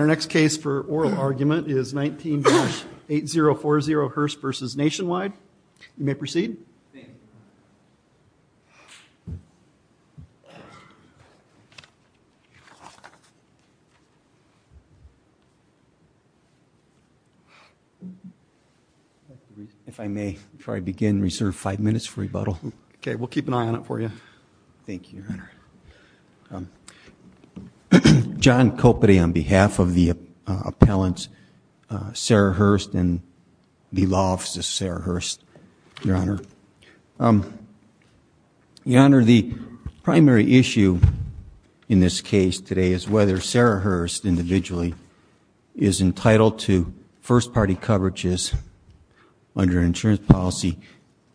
Our next case for oral argument is 19-8040 Hearst v. Nationwide. You may proceed. If I may, before I begin, reserve five minutes for rebuttal. Okay, we'll keep an eye on it for you. John Coperty on behalf of the appellant Sarah Hearst and the law office of Sarah Hearst, Your Honor. Your Honor, the primary issue in this case today is whether Sarah Hearst individually is entitled to first party coverages under insurance policy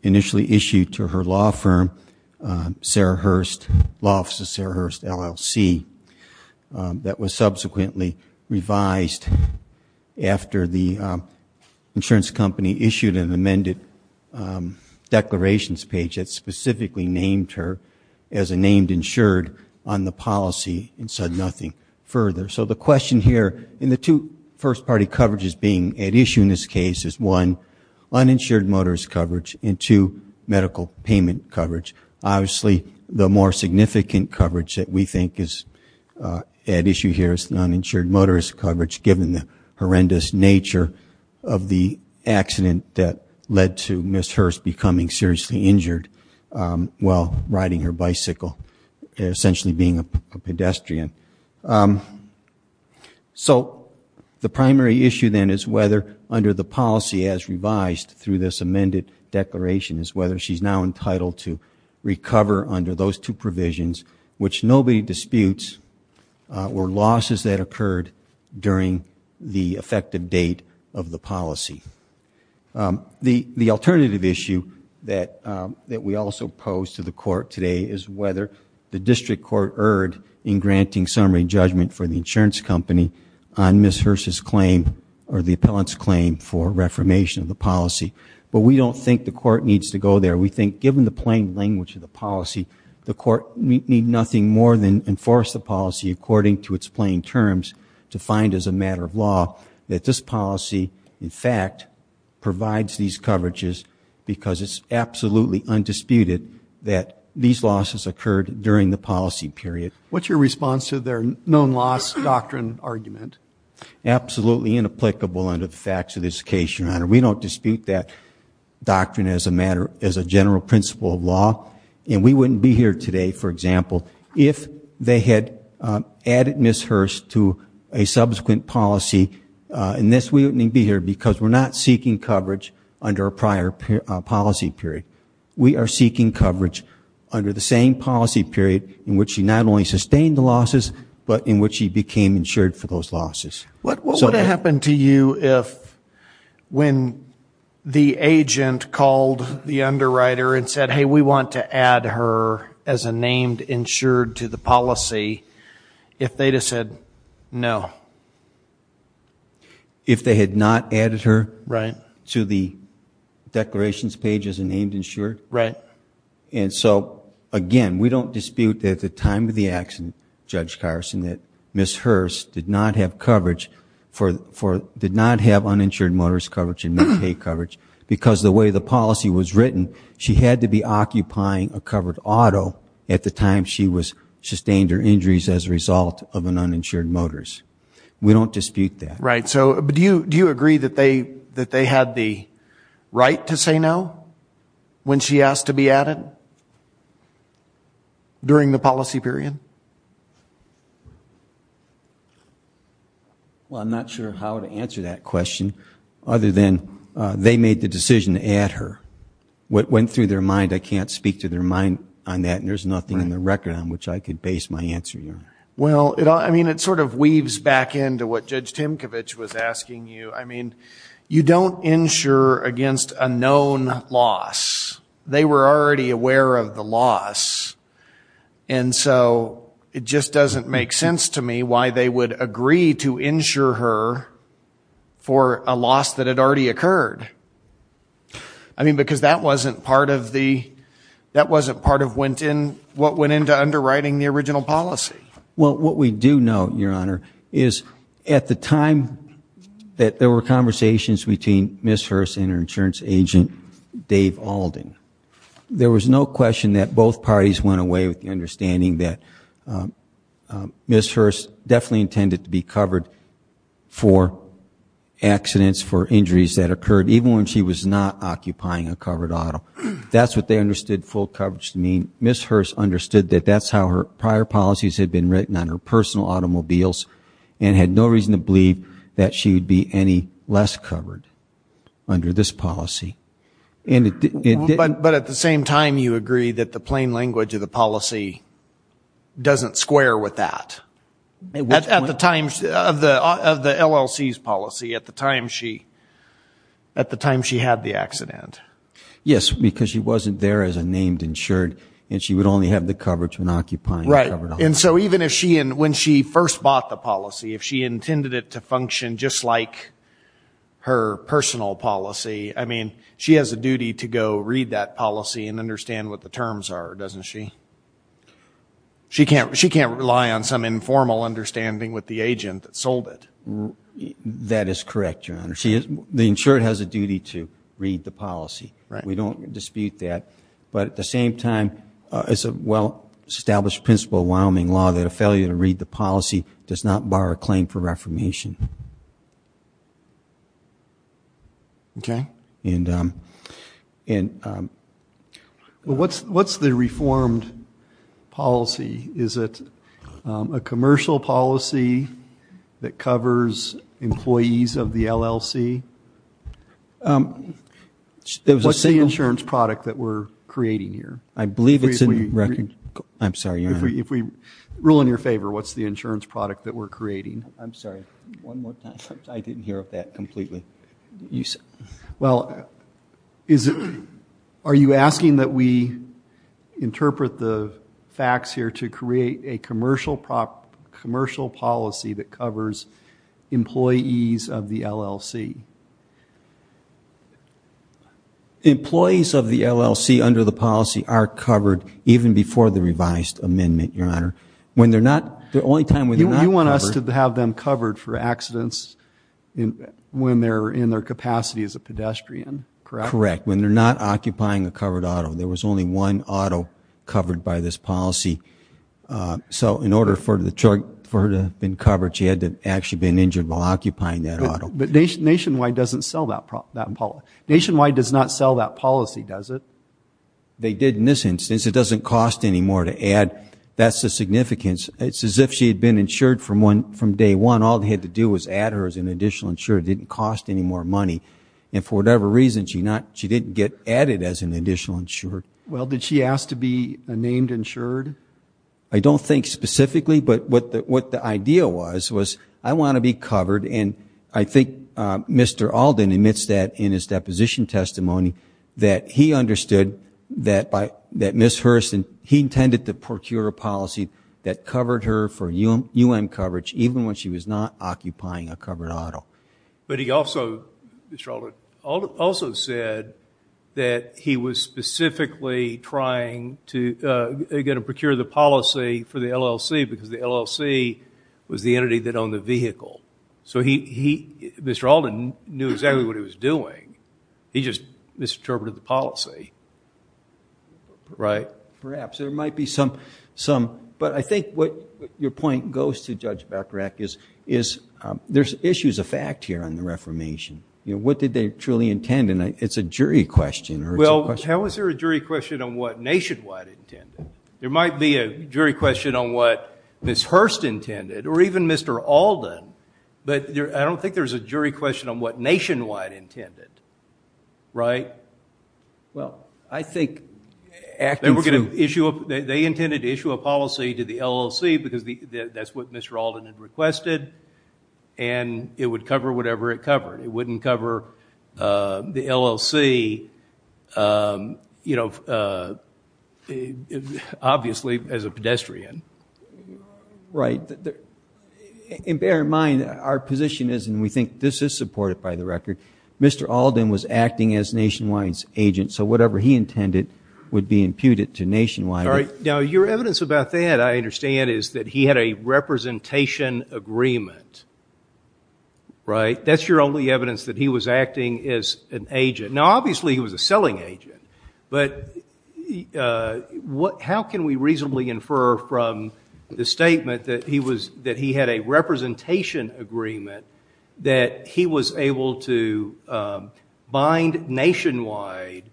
initially issued to her law firm, Sarah Hearst, law office of Sarah Hearst LLC, that was subsequently revised after the insurance company issued an amended declarations page that specifically named her as a named insured on the policy and said nothing further. So the question here in the two first party coverages being at issue in this case is one, uninsured motorist coverage, and two, medical payment coverage. Obviously, the more significant coverage that we think is at issue here is uninsured motorist coverage, given the horrendous nature of the accident that led to Ms. Hearst becoming seriously injured while riding her bicycle, essentially being a pedestrian. So the primary issue then is whether under the policy as revised through this amended declaration is whether she's now entitled to recover under those two provisions, which nobody disputes were losses that occurred during the effective date of the policy. The alternative issue that we also pose to the court today is whether the district court erred in granting summary judgment for the insurance company on Ms. Hearst's claim or the appellant's claim for reformation of the policy. But we don't think the court needs to go there. We think given the plain language of the policy, the court need nothing more than enforce the policy according to its plain terms to find as a matter of law that this policy, in fact, provides these coverages because it's absolutely undisputed that these losses occurred during the policy period. What's your response to their known loss doctrine argument? Absolutely inapplicable under the facts of this case, Your Honor. We don't dispute that doctrine as a general principle of law, and we wouldn't be here today, for example, if they had added Ms. Hearst to a subsequent policy. We wouldn't be here because we're not seeking coverage under a prior policy period. We are seeking coverage under the same policy period in which she not only sustained the losses but in which she became insured for those losses. What would happen to you if when the agent called the underwriter and said, hey, we want to add her as a named insured to the policy, if they'd have said no? If they had not added her to the declarations page as a named insured? Right. And so, again, we don't dispute that at the time of the accident, Judge Carson, that Ms. Hearst did not have uninsured motorist coverage and Medicaid coverage because the way the policy was written, she had to be occupying a covered auto at the time she sustained her injuries as a result of an uninsured motorist. We don't dispute that. Right. Do you agree that they had the right to say no when she asked to be added during the policy period? Well, I'm not sure how to answer that question other than they made the decision to add her. What went through their mind, I can't speak to their mind on that, and there's nothing in the record on which I can base my answer on. Well, I mean, it sort of weaves back into what Judge Timkovich was asking you. I mean, you don't insure against a known loss. They were already aware of the loss, and so it just doesn't make sense to me why they would agree to insure her for a loss that had already occurred. I mean, because that wasn't part of what went into underwriting the original policy. Well, what we do know, Your Honor, is at the time that there were conversations between Ms. Hearst and her insurance agent, Dave Alden, there was no question that both parties went away with the understanding that Ms. Hearst definitely intended to be covered for accidents, for injuries that occurred, even when she was not occupying a covered auto. That's what they understood full coverage to mean. Ms. Hearst understood that that's how her prior policies had been written on her personal automobiles and had no reason to believe that she would be any less covered under this policy. But at the same time, you agree that the plain language of the policy doesn't square with that. At the time of the LLC's policy, at the time she had the accident. Yes, because she wasn't there as a named insured, and she would only have the coverage when occupying a covered auto. Right, and so even when she first bought the policy, if she intended it to function just like her personal policy, I mean, she has a duty to go read that policy and understand what the terms are, doesn't she? She can't rely on some informal understanding with the agent that sold it. That is correct, Your Honor. The insured has a duty to read the policy. We don't dispute that. But at the same time, it's a well-established principle of Wyoming law that a failure to read the policy does not bar a claim for reformation. Okay. What's the reformed policy? Is it a commercial policy that covers employees of the LLC? What's the insurance product that we're creating here? I believe it's in record. I'm sorry, Your Honor. Rule in your favor, what's the insurance product that we're creating? I'm sorry, one more time. I didn't hear that completely. Well, are you asking that we interpret the facts here to create a commercial policy that covers employees of the LLC? Employees of the LLC under the policy are covered even before the revised amendment, Your Honor. When they're not, the only time when they're not covered. You want us to have them covered for accidents when they're in their capacity as a pedestrian, correct? Correct. When they're not occupying a covered auto. There was only one auto covered by this policy. So in order for her to have been covered, she had to have actually been injured while occupying that auto. But Nationwide doesn't sell that policy, does it? They did in this instance. It doesn't cost any more to add. That's the significance. It's as if she had been insured from day one. All they had to do was add her as an additional insurer. It didn't cost any more money. And for whatever reason, she didn't get added as an additional insurer. Well, did she ask to be named insured? I don't think specifically. But what the idea was, was I want to be covered. And I think Mr. Alden admits that in his deposition testimony, that he understood that Ms. Hurston, he intended to procure a policy that covered her for U.M. coverage even when she was not occupying a covered auto. But he also, Mr. Alden, also said that he was specifically trying to procure the policy for the LLC because the LLC was the entity that owned the vehicle. So he, Mr. Alden, knew exactly what he was doing. He just misinterpreted the policy. Right. Perhaps. There might be some, but I think what your point goes to, Judge Bechirach, is there's issues of fact here on the reformation. What did they truly intend? And it's a jury question. Well, how is there a jury question on what Nationwide intended? There might be a jury question on what Ms. Hurston intended or even Mr. Alden. But I don't think there's a jury question on what Nationwide intended. Right? Well, I think acting through. They intended to issue a policy to the LLC because that's what Mr. Alden had requested. And it would cover whatever it covered. It wouldn't cover the LLC, you know, obviously, as a pedestrian. Right. And bear in mind, our position is, and we think this is supported by the record, Mr. Alden was acting as Nationwide's agent. So whatever he intended would be imputed to Nationwide. Now, your evidence about that, I understand, is that he had a representation agreement. Right? That's your only evidence that he was acting as an agent. Now, obviously, he was a selling agent. But how can we reasonably infer from the statement that he had a representation agreement that he was able to bind Nationwide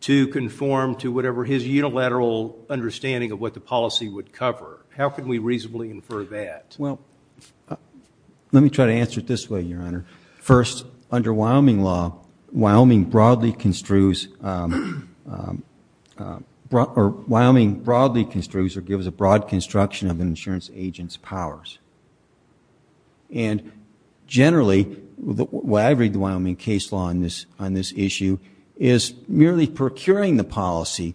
to conform to whatever his unilateral understanding of what the policy would cover? How can we reasonably infer that? Well, let me try to answer it this way, Your Honor. First, under Wyoming law, Wyoming broadly construes or gives a broad construction of an insurance agent's powers. And generally, what I read in the Wyoming case law on this issue is merely procuring the policy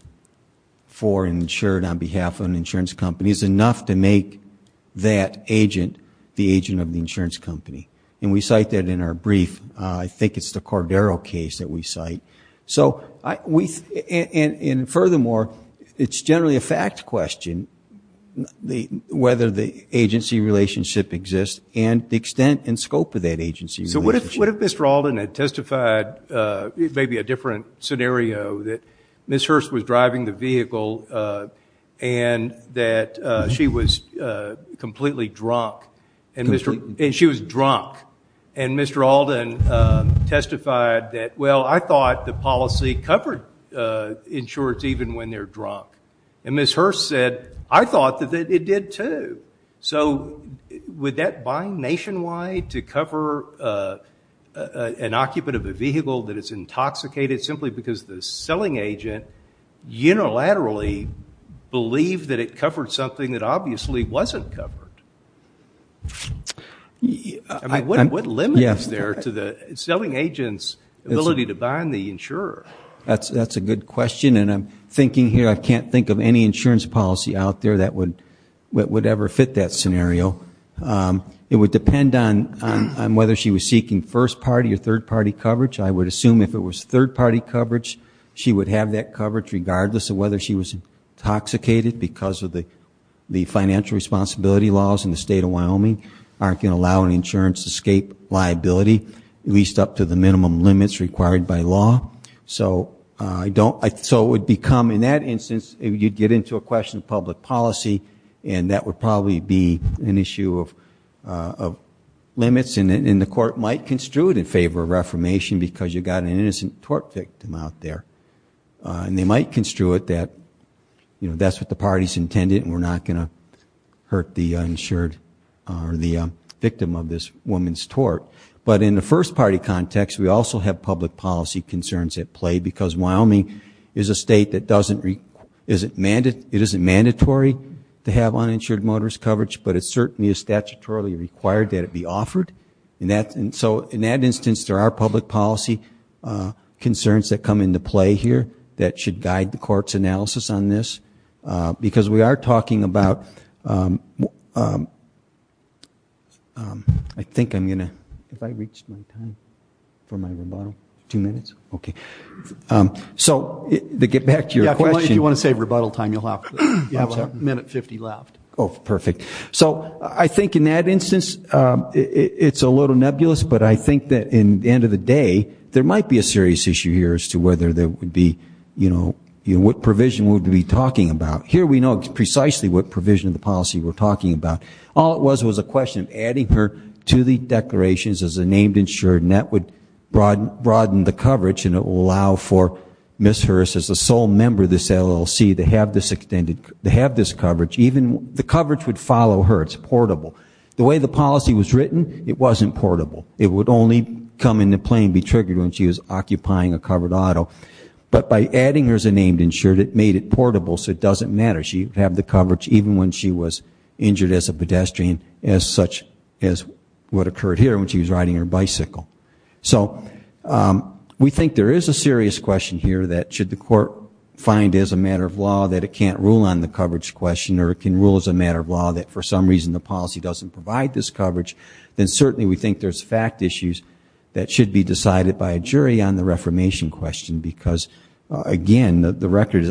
for an insured on behalf of an insurance company is enough to make that agent the agent of the insurance company. And we cite that in our brief. I think it's the Cordero case that we cite. And furthermore, it's generally a fact question whether the agency relationship exists and the extent and scope of that agency relationship. So what if Mr. Alden had testified, maybe a different scenario, that Ms. Hurst was driving the vehicle and that she was completely drunk? And she was drunk. And Mr. Alden testified that, well, I thought the policy covered insurance even when they're drunk. And Ms. Hurst said, I thought that it did, too. So would that bind nationwide to cover an occupant of a vehicle that is intoxicated simply because the selling agent unilaterally believed that it covered something that obviously wasn't covered? I mean, what limit is there to the selling agent's ability to bind the insurer? That's a good question. And I'm thinking here, I can't think of any insurance policy out there that would ever fit that scenario. It would depend on whether she was seeking first-party or third-party coverage. I would assume if it was third-party coverage, she would have that coverage regardless of whether she was intoxicated because of the financial responsibility laws in the state of Wyoming aren't going to allow an insurance escape liability, at least up to the minimum limits required by law. So it would become, in that instance, you'd get into a question of public policy and that would probably be an issue of limits. And the court might construe it in favor of reformation because you've got an innocent tort victim out there. And they might construe it that that's what the party's intended and we're not going to hurt the victim of this woman's tort. But in the first-party context, we also have public policy concerns at play because Wyoming is a state that it isn't mandatory to have uninsured motorist coverage, but it certainly is statutorily required that it be offered. So in that instance, there are public policy concerns that come into play here that should guide the court's analysis on this because we are talking about, I think I'm going to, have I reached my time for my rebuttal? Two minutes? Okay. So to get back to your question. Yeah, if you want to save rebuttal time, you'll have a minute 50 left. Oh, perfect. So I think in that instance, it's a little nebulous, but I think that in the end of the day there might be a serious issue here as to whether there would be, you know, what provision we would be talking about. Here we know precisely what provision of the policy we're talking about. All it was was a question of adding her to the declarations as a named insured, and that would broaden the coverage, and it will allow for Ms. Hurst as the sole member of this LLC to have this coverage. Even the coverage would follow her. It's portable. The way the policy was written, it wasn't portable. It would only come into play and be triggered when she was occupying a covered auto. But by adding her as a named insured, it made it portable so it doesn't matter. She would have the coverage even when she was injured as a pedestrian as such as what occurred here when she was riding her bicycle. So we think there is a serious question here that should the court find as a matter of law that it can't rule on the coverage question or it can rule as a matter of law that for some reason the policy doesn't provide this coverage, then certainly we think there's fact issues that should be decided by a jury on the reformation question because, again,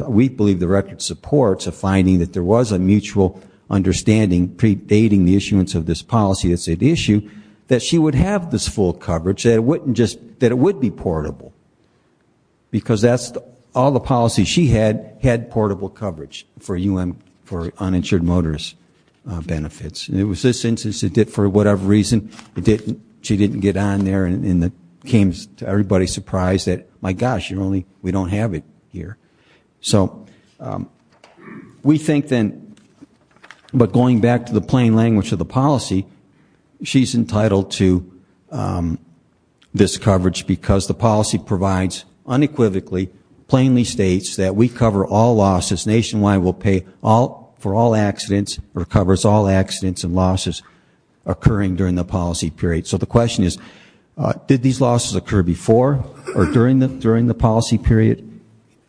we believe the record supports a finding that there was a mutual understanding predating the issuance of this policy that said the issue, that she would have this full coverage, that it would be portable because all the policies she had had portable coverage for uninsured motorist benefits. And it was this instance that did it for whatever reason. She didn't get on there and it came to everybody's surprise that, my gosh, we don't have it here. So we think then, but going back to the plain language of the policy, she's entitled to this coverage because the policy provides unequivocally, plainly states, that we cover all losses nationwide. We'll pay for all accidents or covers all accidents and losses occurring during the policy period. So the question is, did these losses occur before or during the policy period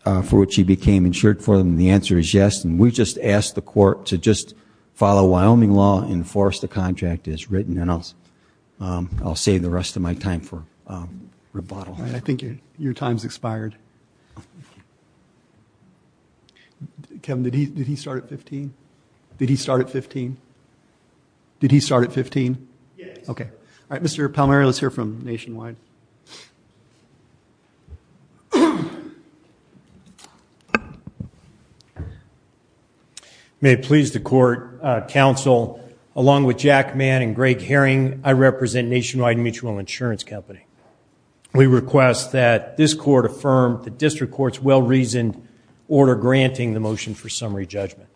for which she became insured for? And the answer is yes. And we just asked the court to just follow Wyoming law, enforce the contract as written, and I'll save the rest of my time for rebuttal. I think your time's expired. Kevin, did he start at 15? Did he start at 15? Did he start at 15? Yes. Okay. All right, Mr. Palmieri, let's hear from Nationwide. May it please the court, counsel, along with Jack Mann and Greg Herring, I represent Nationwide Mutual Insurance Company. We request that this court affirm the district court's well-reasoned order granting the motion for summary judgment.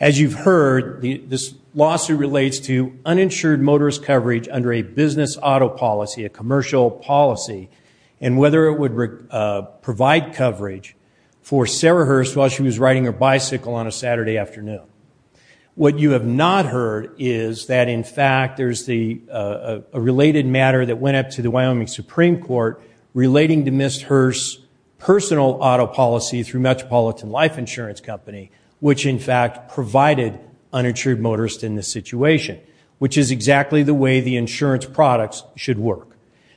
As you've heard, this lawsuit relates to uninsured motorist coverage under a business auto policy, a commercial policy, and whether it would provide coverage for Sarah Hurst while she was riding her bicycle on a Saturday afternoon. What you have not heard is that, in fact, there's a related matter that went up to the Wyoming Supreme Court relating to Ms. Hurst's personal auto policy through Metropolitan Life Insurance Company, which, in fact, provided uninsured motorists in this situation, which is exactly the way the insurance products should work.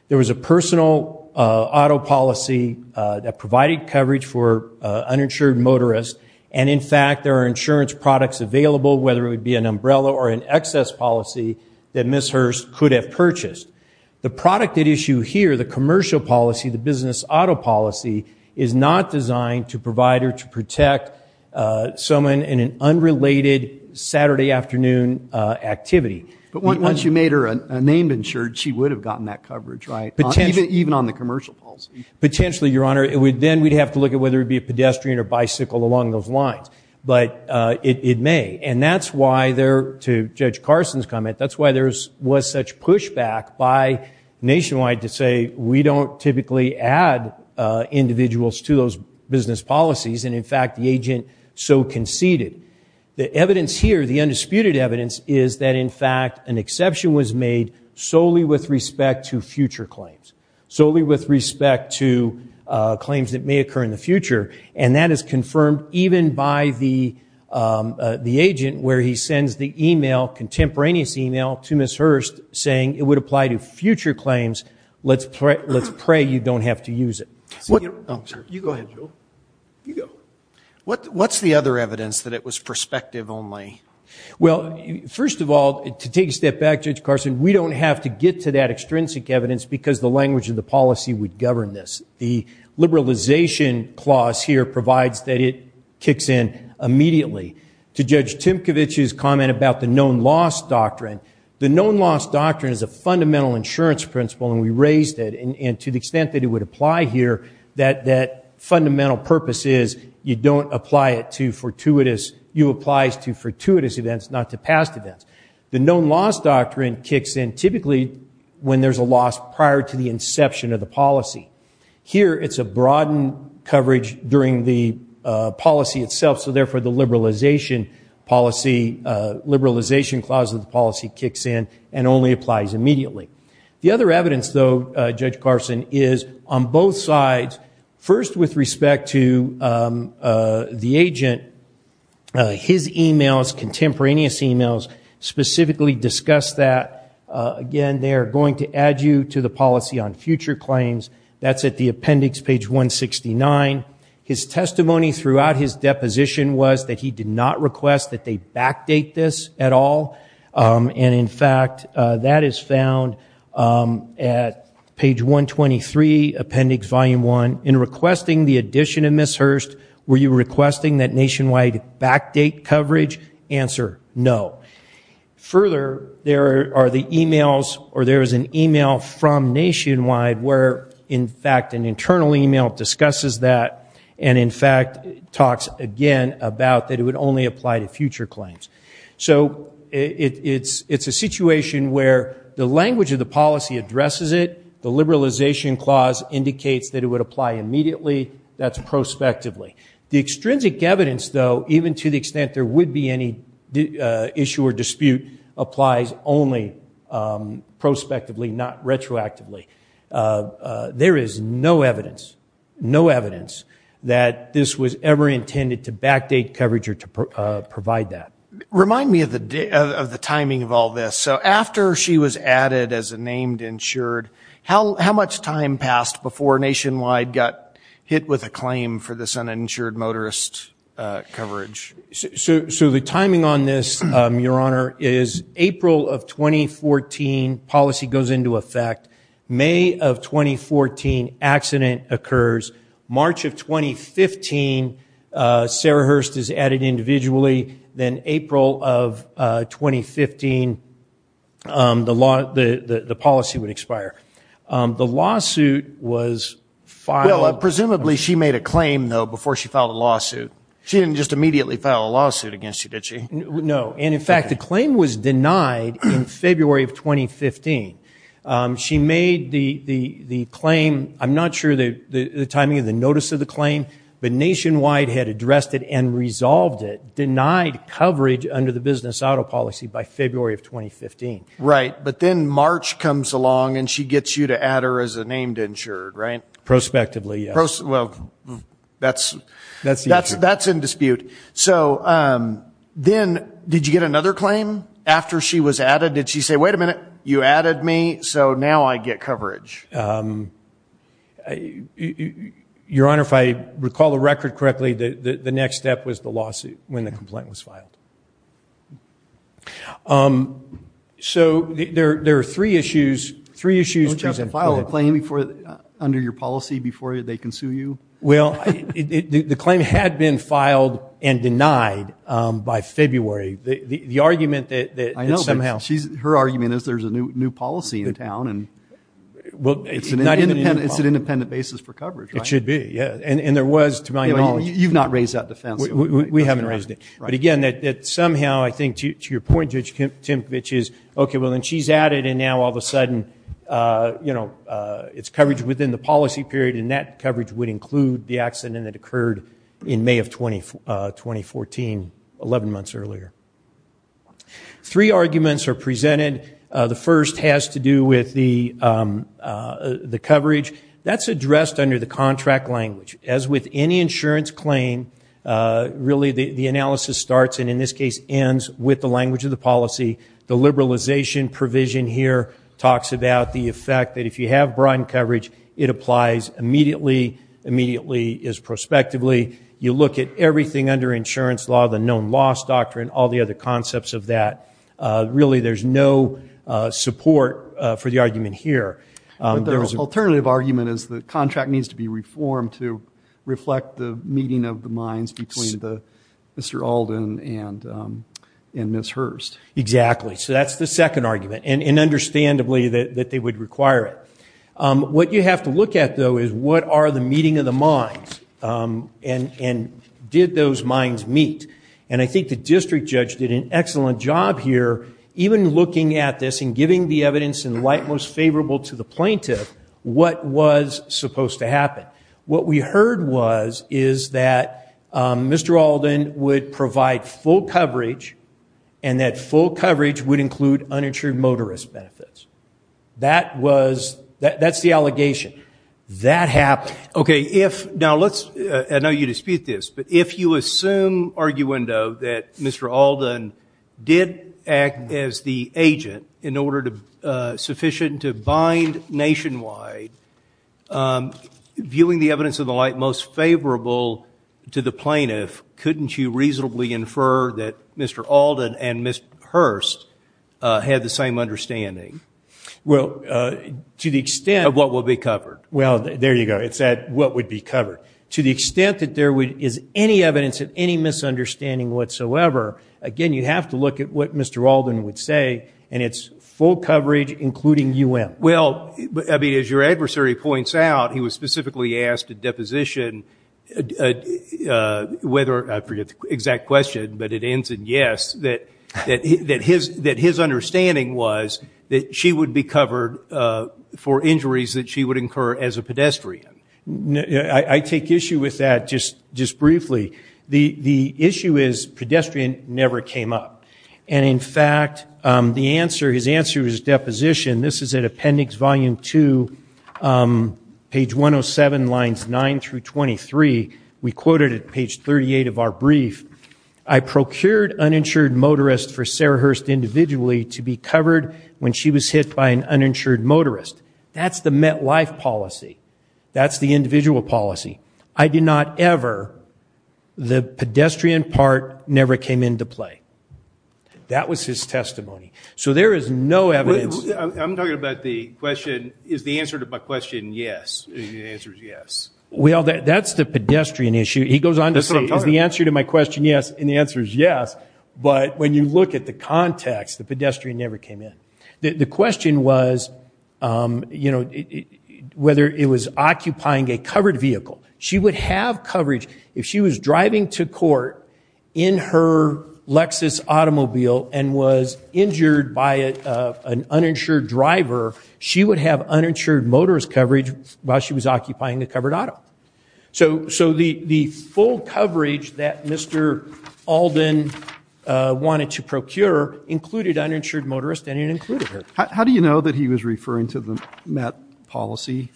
There was a personal auto policy that provided coverage for uninsured motorists, and, in fact, there are insurance products available, whether it would be an umbrella or an excess policy, that Ms. Hurst could have purchased. The product at issue here, the commercial policy, the business auto policy, is not designed to provide or to protect someone in an unrelated Saturday afternoon activity. But once you made her a named insured, she would have gotten that coverage, right? Even on the commercial policy. Potentially, Your Honor, then we'd have to look at whether it would be a pedestrian or bicycle along those lines. But it may, and that's why there, to Judge Carson's comment, that's why there was such pushback by Nationwide to say we don't typically add individuals to those business policies, and, in fact, the agent so conceded. The evidence here, the undisputed evidence, is that, in fact, an exception was made solely with respect to future claims, solely with respect to claims that may occur in the future, and that is confirmed even by the agent where he sends the email, contemporaneous email, to Ms. Hurst saying it would apply to future claims. Let's pray you don't have to use it. You go ahead, Joe. You go. What's the other evidence that it was perspective only? Well, first of all, to take a step back, Judge Carson, we don't have to get to that extrinsic evidence because the language of the policy would govern this. The liberalization clause here provides that it kicks in immediately. To Judge Timkovich's comment about the known loss doctrine, the known loss doctrine is a fundamental insurance principle, and we raised it, and to the extent that it would apply here, that fundamental purpose is you don't apply it to fortuitous, you apply it to fortuitous events, not to past events. The known loss doctrine kicks in typically when there's a loss prior to the inception of the policy. Here it's a broadened coverage during the policy itself, so therefore the liberalization clause of the policy kicks in and only applies immediately. The other evidence, though, Judge Carson, is on both sides, first with respect to the agent, his emails, contemporaneous emails, specifically discuss that. Again, they are going to add you to the policy on future claims. That's at the appendix, page 169. His testimony throughout his deposition was that he did not request that they backdate this at all, and in fact that is found at page 123, appendix volume 1. In requesting the addition of Ms. Hurst, were you requesting that Nationwide backdate coverage? Answer, no. Further, there are the emails, or there is an email from Nationwide where, in fact, an internal email discusses that and, in fact, talks again about that it would only apply to future claims. So it's a situation where the language of the policy addresses it, the liberalization clause indicates that it would apply immediately, that's prospectively. The extrinsic evidence, though, even to the extent there would be any issue or dispute, applies only prospectively, not retroactively. There is no evidence, no evidence that this was ever intended to backdate coverage or to provide that. Remind me of the timing of all this. So after she was added as a named insured, how much time passed before Nationwide got hit with a claim for this uninsured motorist coverage? So the timing on this, Your Honor, is April of 2014, policy goes into effect. May of 2014, accident occurs. March of 2015, Sarah Hurst is added individually. Then April of 2015, the policy would expire. The lawsuit was filed. Well, presumably she made a claim, though, before she filed a lawsuit. She didn't just immediately file a lawsuit against you, did she? No, and, in fact, the claim was denied in February of 2015. She made the claim, I'm not sure the timing of the notice of the claim, but Nationwide had addressed it and resolved it, denied coverage under the business auto policy by February of 2015. Right, but then March comes along and she gets you to add her as a named insured, right? Prospectively, yes. Well, that's in dispute. So then did you get another claim after she was added? Did she say, wait a minute, you added me, so now I get coverage? Your Honor, if I recall the record correctly, the next step was the lawsuit when the complaint was filed. So there are three issues. Don't you have to file a claim under your policy before they can sue you? Well, the claim had been filed and denied by February. I know, but her argument is there's a new policy in town and it's an independent basis for coverage, right? It should be, yeah, and there was to my knowledge. You've not raised that defense. We haven't raised it. But, again, somehow, I think to your point, Judge Timkovich, is, okay, well, then she's added, and now all of a sudden it's coverage within the policy period, and that coverage would include the accident that occurred in May of 2014, 11 months earlier. Three arguments are presented. The first has to do with the coverage. That's addressed under the contract language. As with any insurance claim, really the analysis starts and, in this case, ends with the language of the policy. The liberalization provision here talks about the effect that if you have broadened coverage, it applies immediately. Immediately is prospectively. You look at everything under insurance law, the known loss doctrine, all the other concepts of that. Really there's no support for the argument here. But the alternative argument is the contract needs to be reformed to reflect the meeting of the minds between Mr. Alden and Ms. Hurst. Exactly. So that's the second argument, and understandably that they would require it. What you have to look at, though, is what are the meeting of the minds, and did those minds meet? And I think the district judge did an excellent job here even looking at this and giving the evidence in light most favorable to the plaintiff what was supposed to happen. What we heard was is that Mr. Alden would provide full coverage and that full coverage would include uninsured motorist benefits. That's the allegation. Okay. Now, I know you dispute this, but if you assume arguendo that Mr. Alden did act as the agent in order sufficient to bind nationwide, viewing the evidence in the light most favorable to the plaintiff, couldn't you reasonably infer that Mr. Alden and Ms. Hurst had the same understanding? Well, to the extent of what would be covered. Well, there you go. It's that what would be covered. To the extent that there is any evidence of any misunderstanding whatsoever, again, you have to look at what Mr. Alden would say, and it's full coverage including UM. Well, I mean, as your adversary points out, he was specifically asked at deposition whether, I forget the exact question, but it ends in yes, that his understanding was that she would be covered for injuries that she would incur as a pedestrian. I take issue with that just briefly. The issue is pedestrian never came up. And, in fact, the answer, his answer at deposition, this is at appendix volume 2, page 107, lines 9 through 23. We quoted at page 38 of our brief, I procured uninsured motorists for Sarah Hurst individually to be covered when she was hit by an uninsured motorist. That's the MetLife policy. That's the individual policy. I did not ever, the pedestrian part never came into play. That was his testimony. So there is no evidence. I'm talking about the question, is the answer to my question yes? The answer is yes. Well, that's the pedestrian issue. He goes on to say, is the answer to my question yes? And the answer is yes. But when you look at the context, the pedestrian never came in. The question was, you know, whether it was occupying a covered vehicle. She would have coverage if she was driving to court in her Lexus automobile and was injured by an uninsured driver. She would have uninsured motorist coverage while she was occupying a covered auto. So the full coverage that Mr. Alden wanted to procure included uninsured motorists and it included her. How do you know that he was referring to the Met policy?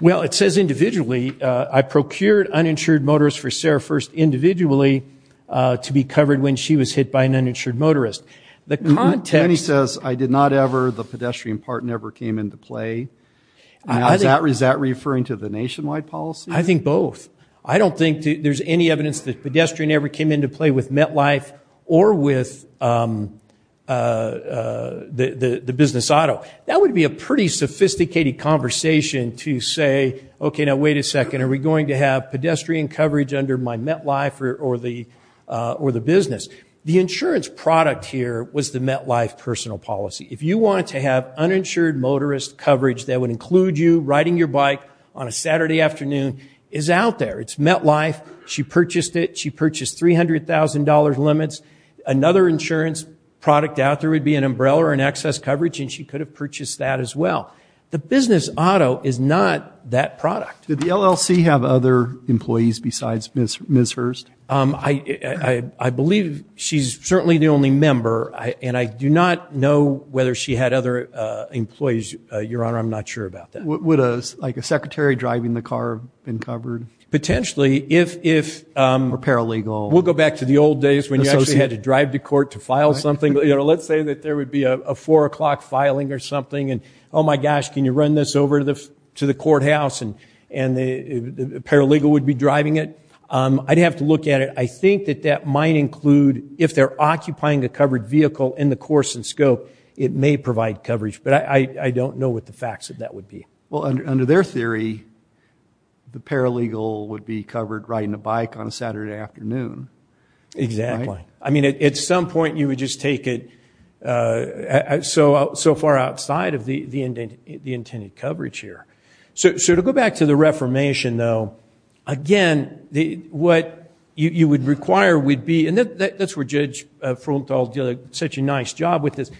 Well, it says individually, I procured uninsured motorists for Sarah Hurst individually to be covered when she was hit by an uninsured motorist. Then he says, I did not ever, the pedestrian part never came into play. Is that referring to the nationwide policy? I think both. I don't think there's any evidence that pedestrian ever came into play with MetLife or with the business auto. That would be a pretty sophisticated conversation to say, okay, now wait a second. Are we going to have pedestrian coverage under my MetLife or the business? The insurance product here was the MetLife personal policy. If you wanted to have uninsured motorist coverage, that would include you riding your bike on a Saturday afternoon, is out there. It's MetLife. She purchased it. She purchased $300,000 limits. Another insurance product out there would be an umbrella or an excess coverage, and she could have purchased that as well. The business auto is not that product. Did the LLC have other employees besides Ms. Hurst? I believe she's certainly the only member, and I do not know whether she had other employees, Your Honor. I'm not sure about that. Would a secretary driving the car have been covered? Potentially. Or paralegal. We'll go back to the old days when you actually had to drive to court to file something. Let's say that there would be a 4 o'clock filing or something, and, oh, my gosh, can you run this over to the courthouse, and the paralegal would be driving it? I'd have to look at it. I think that that might include if they're occupying a covered vehicle in the course and scope, it may provide coverage, but I don't know what the facts of that would be. Well, under their theory, the paralegal would be covered riding a bike on a Saturday afternoon. Exactly. I mean, at some point, you would just take it so far outside of the intended coverage here. So to go back to the Reformation, though, again, what you would require would be, and that's where Judge Fruenthal did such a nice job with this.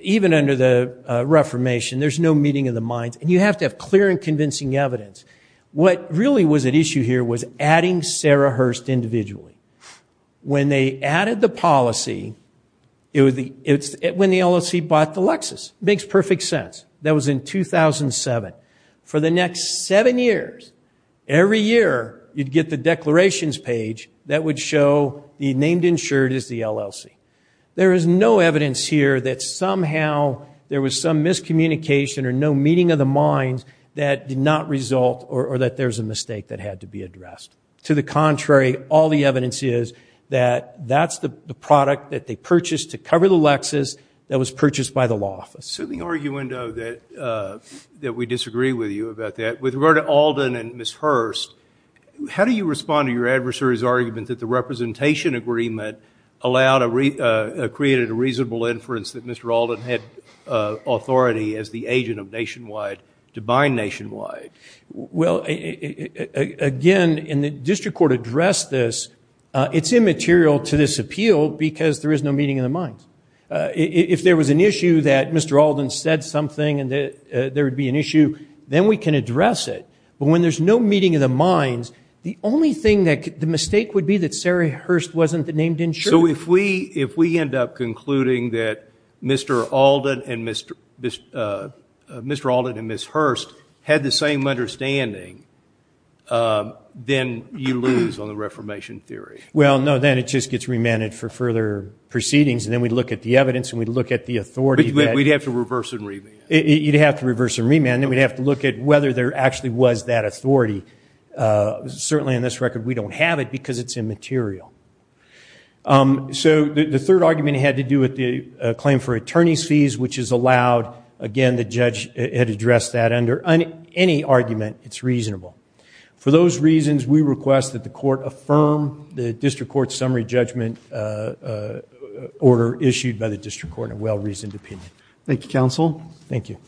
Even under the Reformation, there's no meeting of the minds, and you have to have clear and convincing evidence. What really was at issue here was adding Sarah Hurst individually. When they added the policy, it's when the LLC bought the Lexus. It makes perfect sense. That was in 2007. For the next seven years, every year, you'd get the declarations page that would show the named insured is the LLC. There is no evidence here that somehow there was some miscommunication or no meeting of the minds that did not result or that there's a mistake that had to be addressed. To the contrary, all the evidence is that that's the product that they purchased to cover the Lexus that was purchased by the law office. It's a soothing argument, though, that we disagree with you about that. With regard to Alden and Ms. Hurst, how do you respond to your adversary's argument that the representation agreement created a reasonable inference that Mr. Alden had authority as the agent of nationwide to buy nationwide? Well, again, and the district court addressed this, it's immaterial to this appeal because there is no meeting of the minds. If there was an issue that Mr. Alden said something and there would be an issue, then we can address it. But when there's no meeting of the minds, the only thing that the mistake would be that Sarah Hurst wasn't the named insured. So if we end up concluding that Mr. Alden and Ms. Hurst had the same understanding, then you lose on the reformation theory. Well, no, then it just gets remanded for further proceedings. And then we'd look at the evidence and we'd look at the authority. We'd have to reverse and remand. You'd have to reverse and remand. Then we'd have to look at whether there actually was that authority. Certainly in this record, we don't have it because it's immaterial. So the third argument had to do with the claim for attorney's fees, which is allowed. Again, the judge had addressed that. Under any argument, it's reasonable. For those reasons, we request that the court affirm the district court summary judgment order issued by the district court in a well-reasoned opinion. Thank you, counsel. Thank you.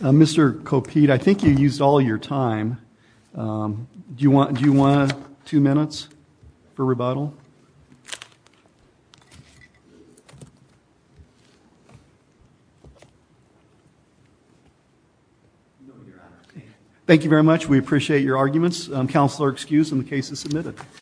Mr. Kopit, I think you used all your time. Do you want two minutes for rebuttal? Thank you, counsel. Thank you very much. We appreciate your arguments. Counsel are excused and the case is submitted.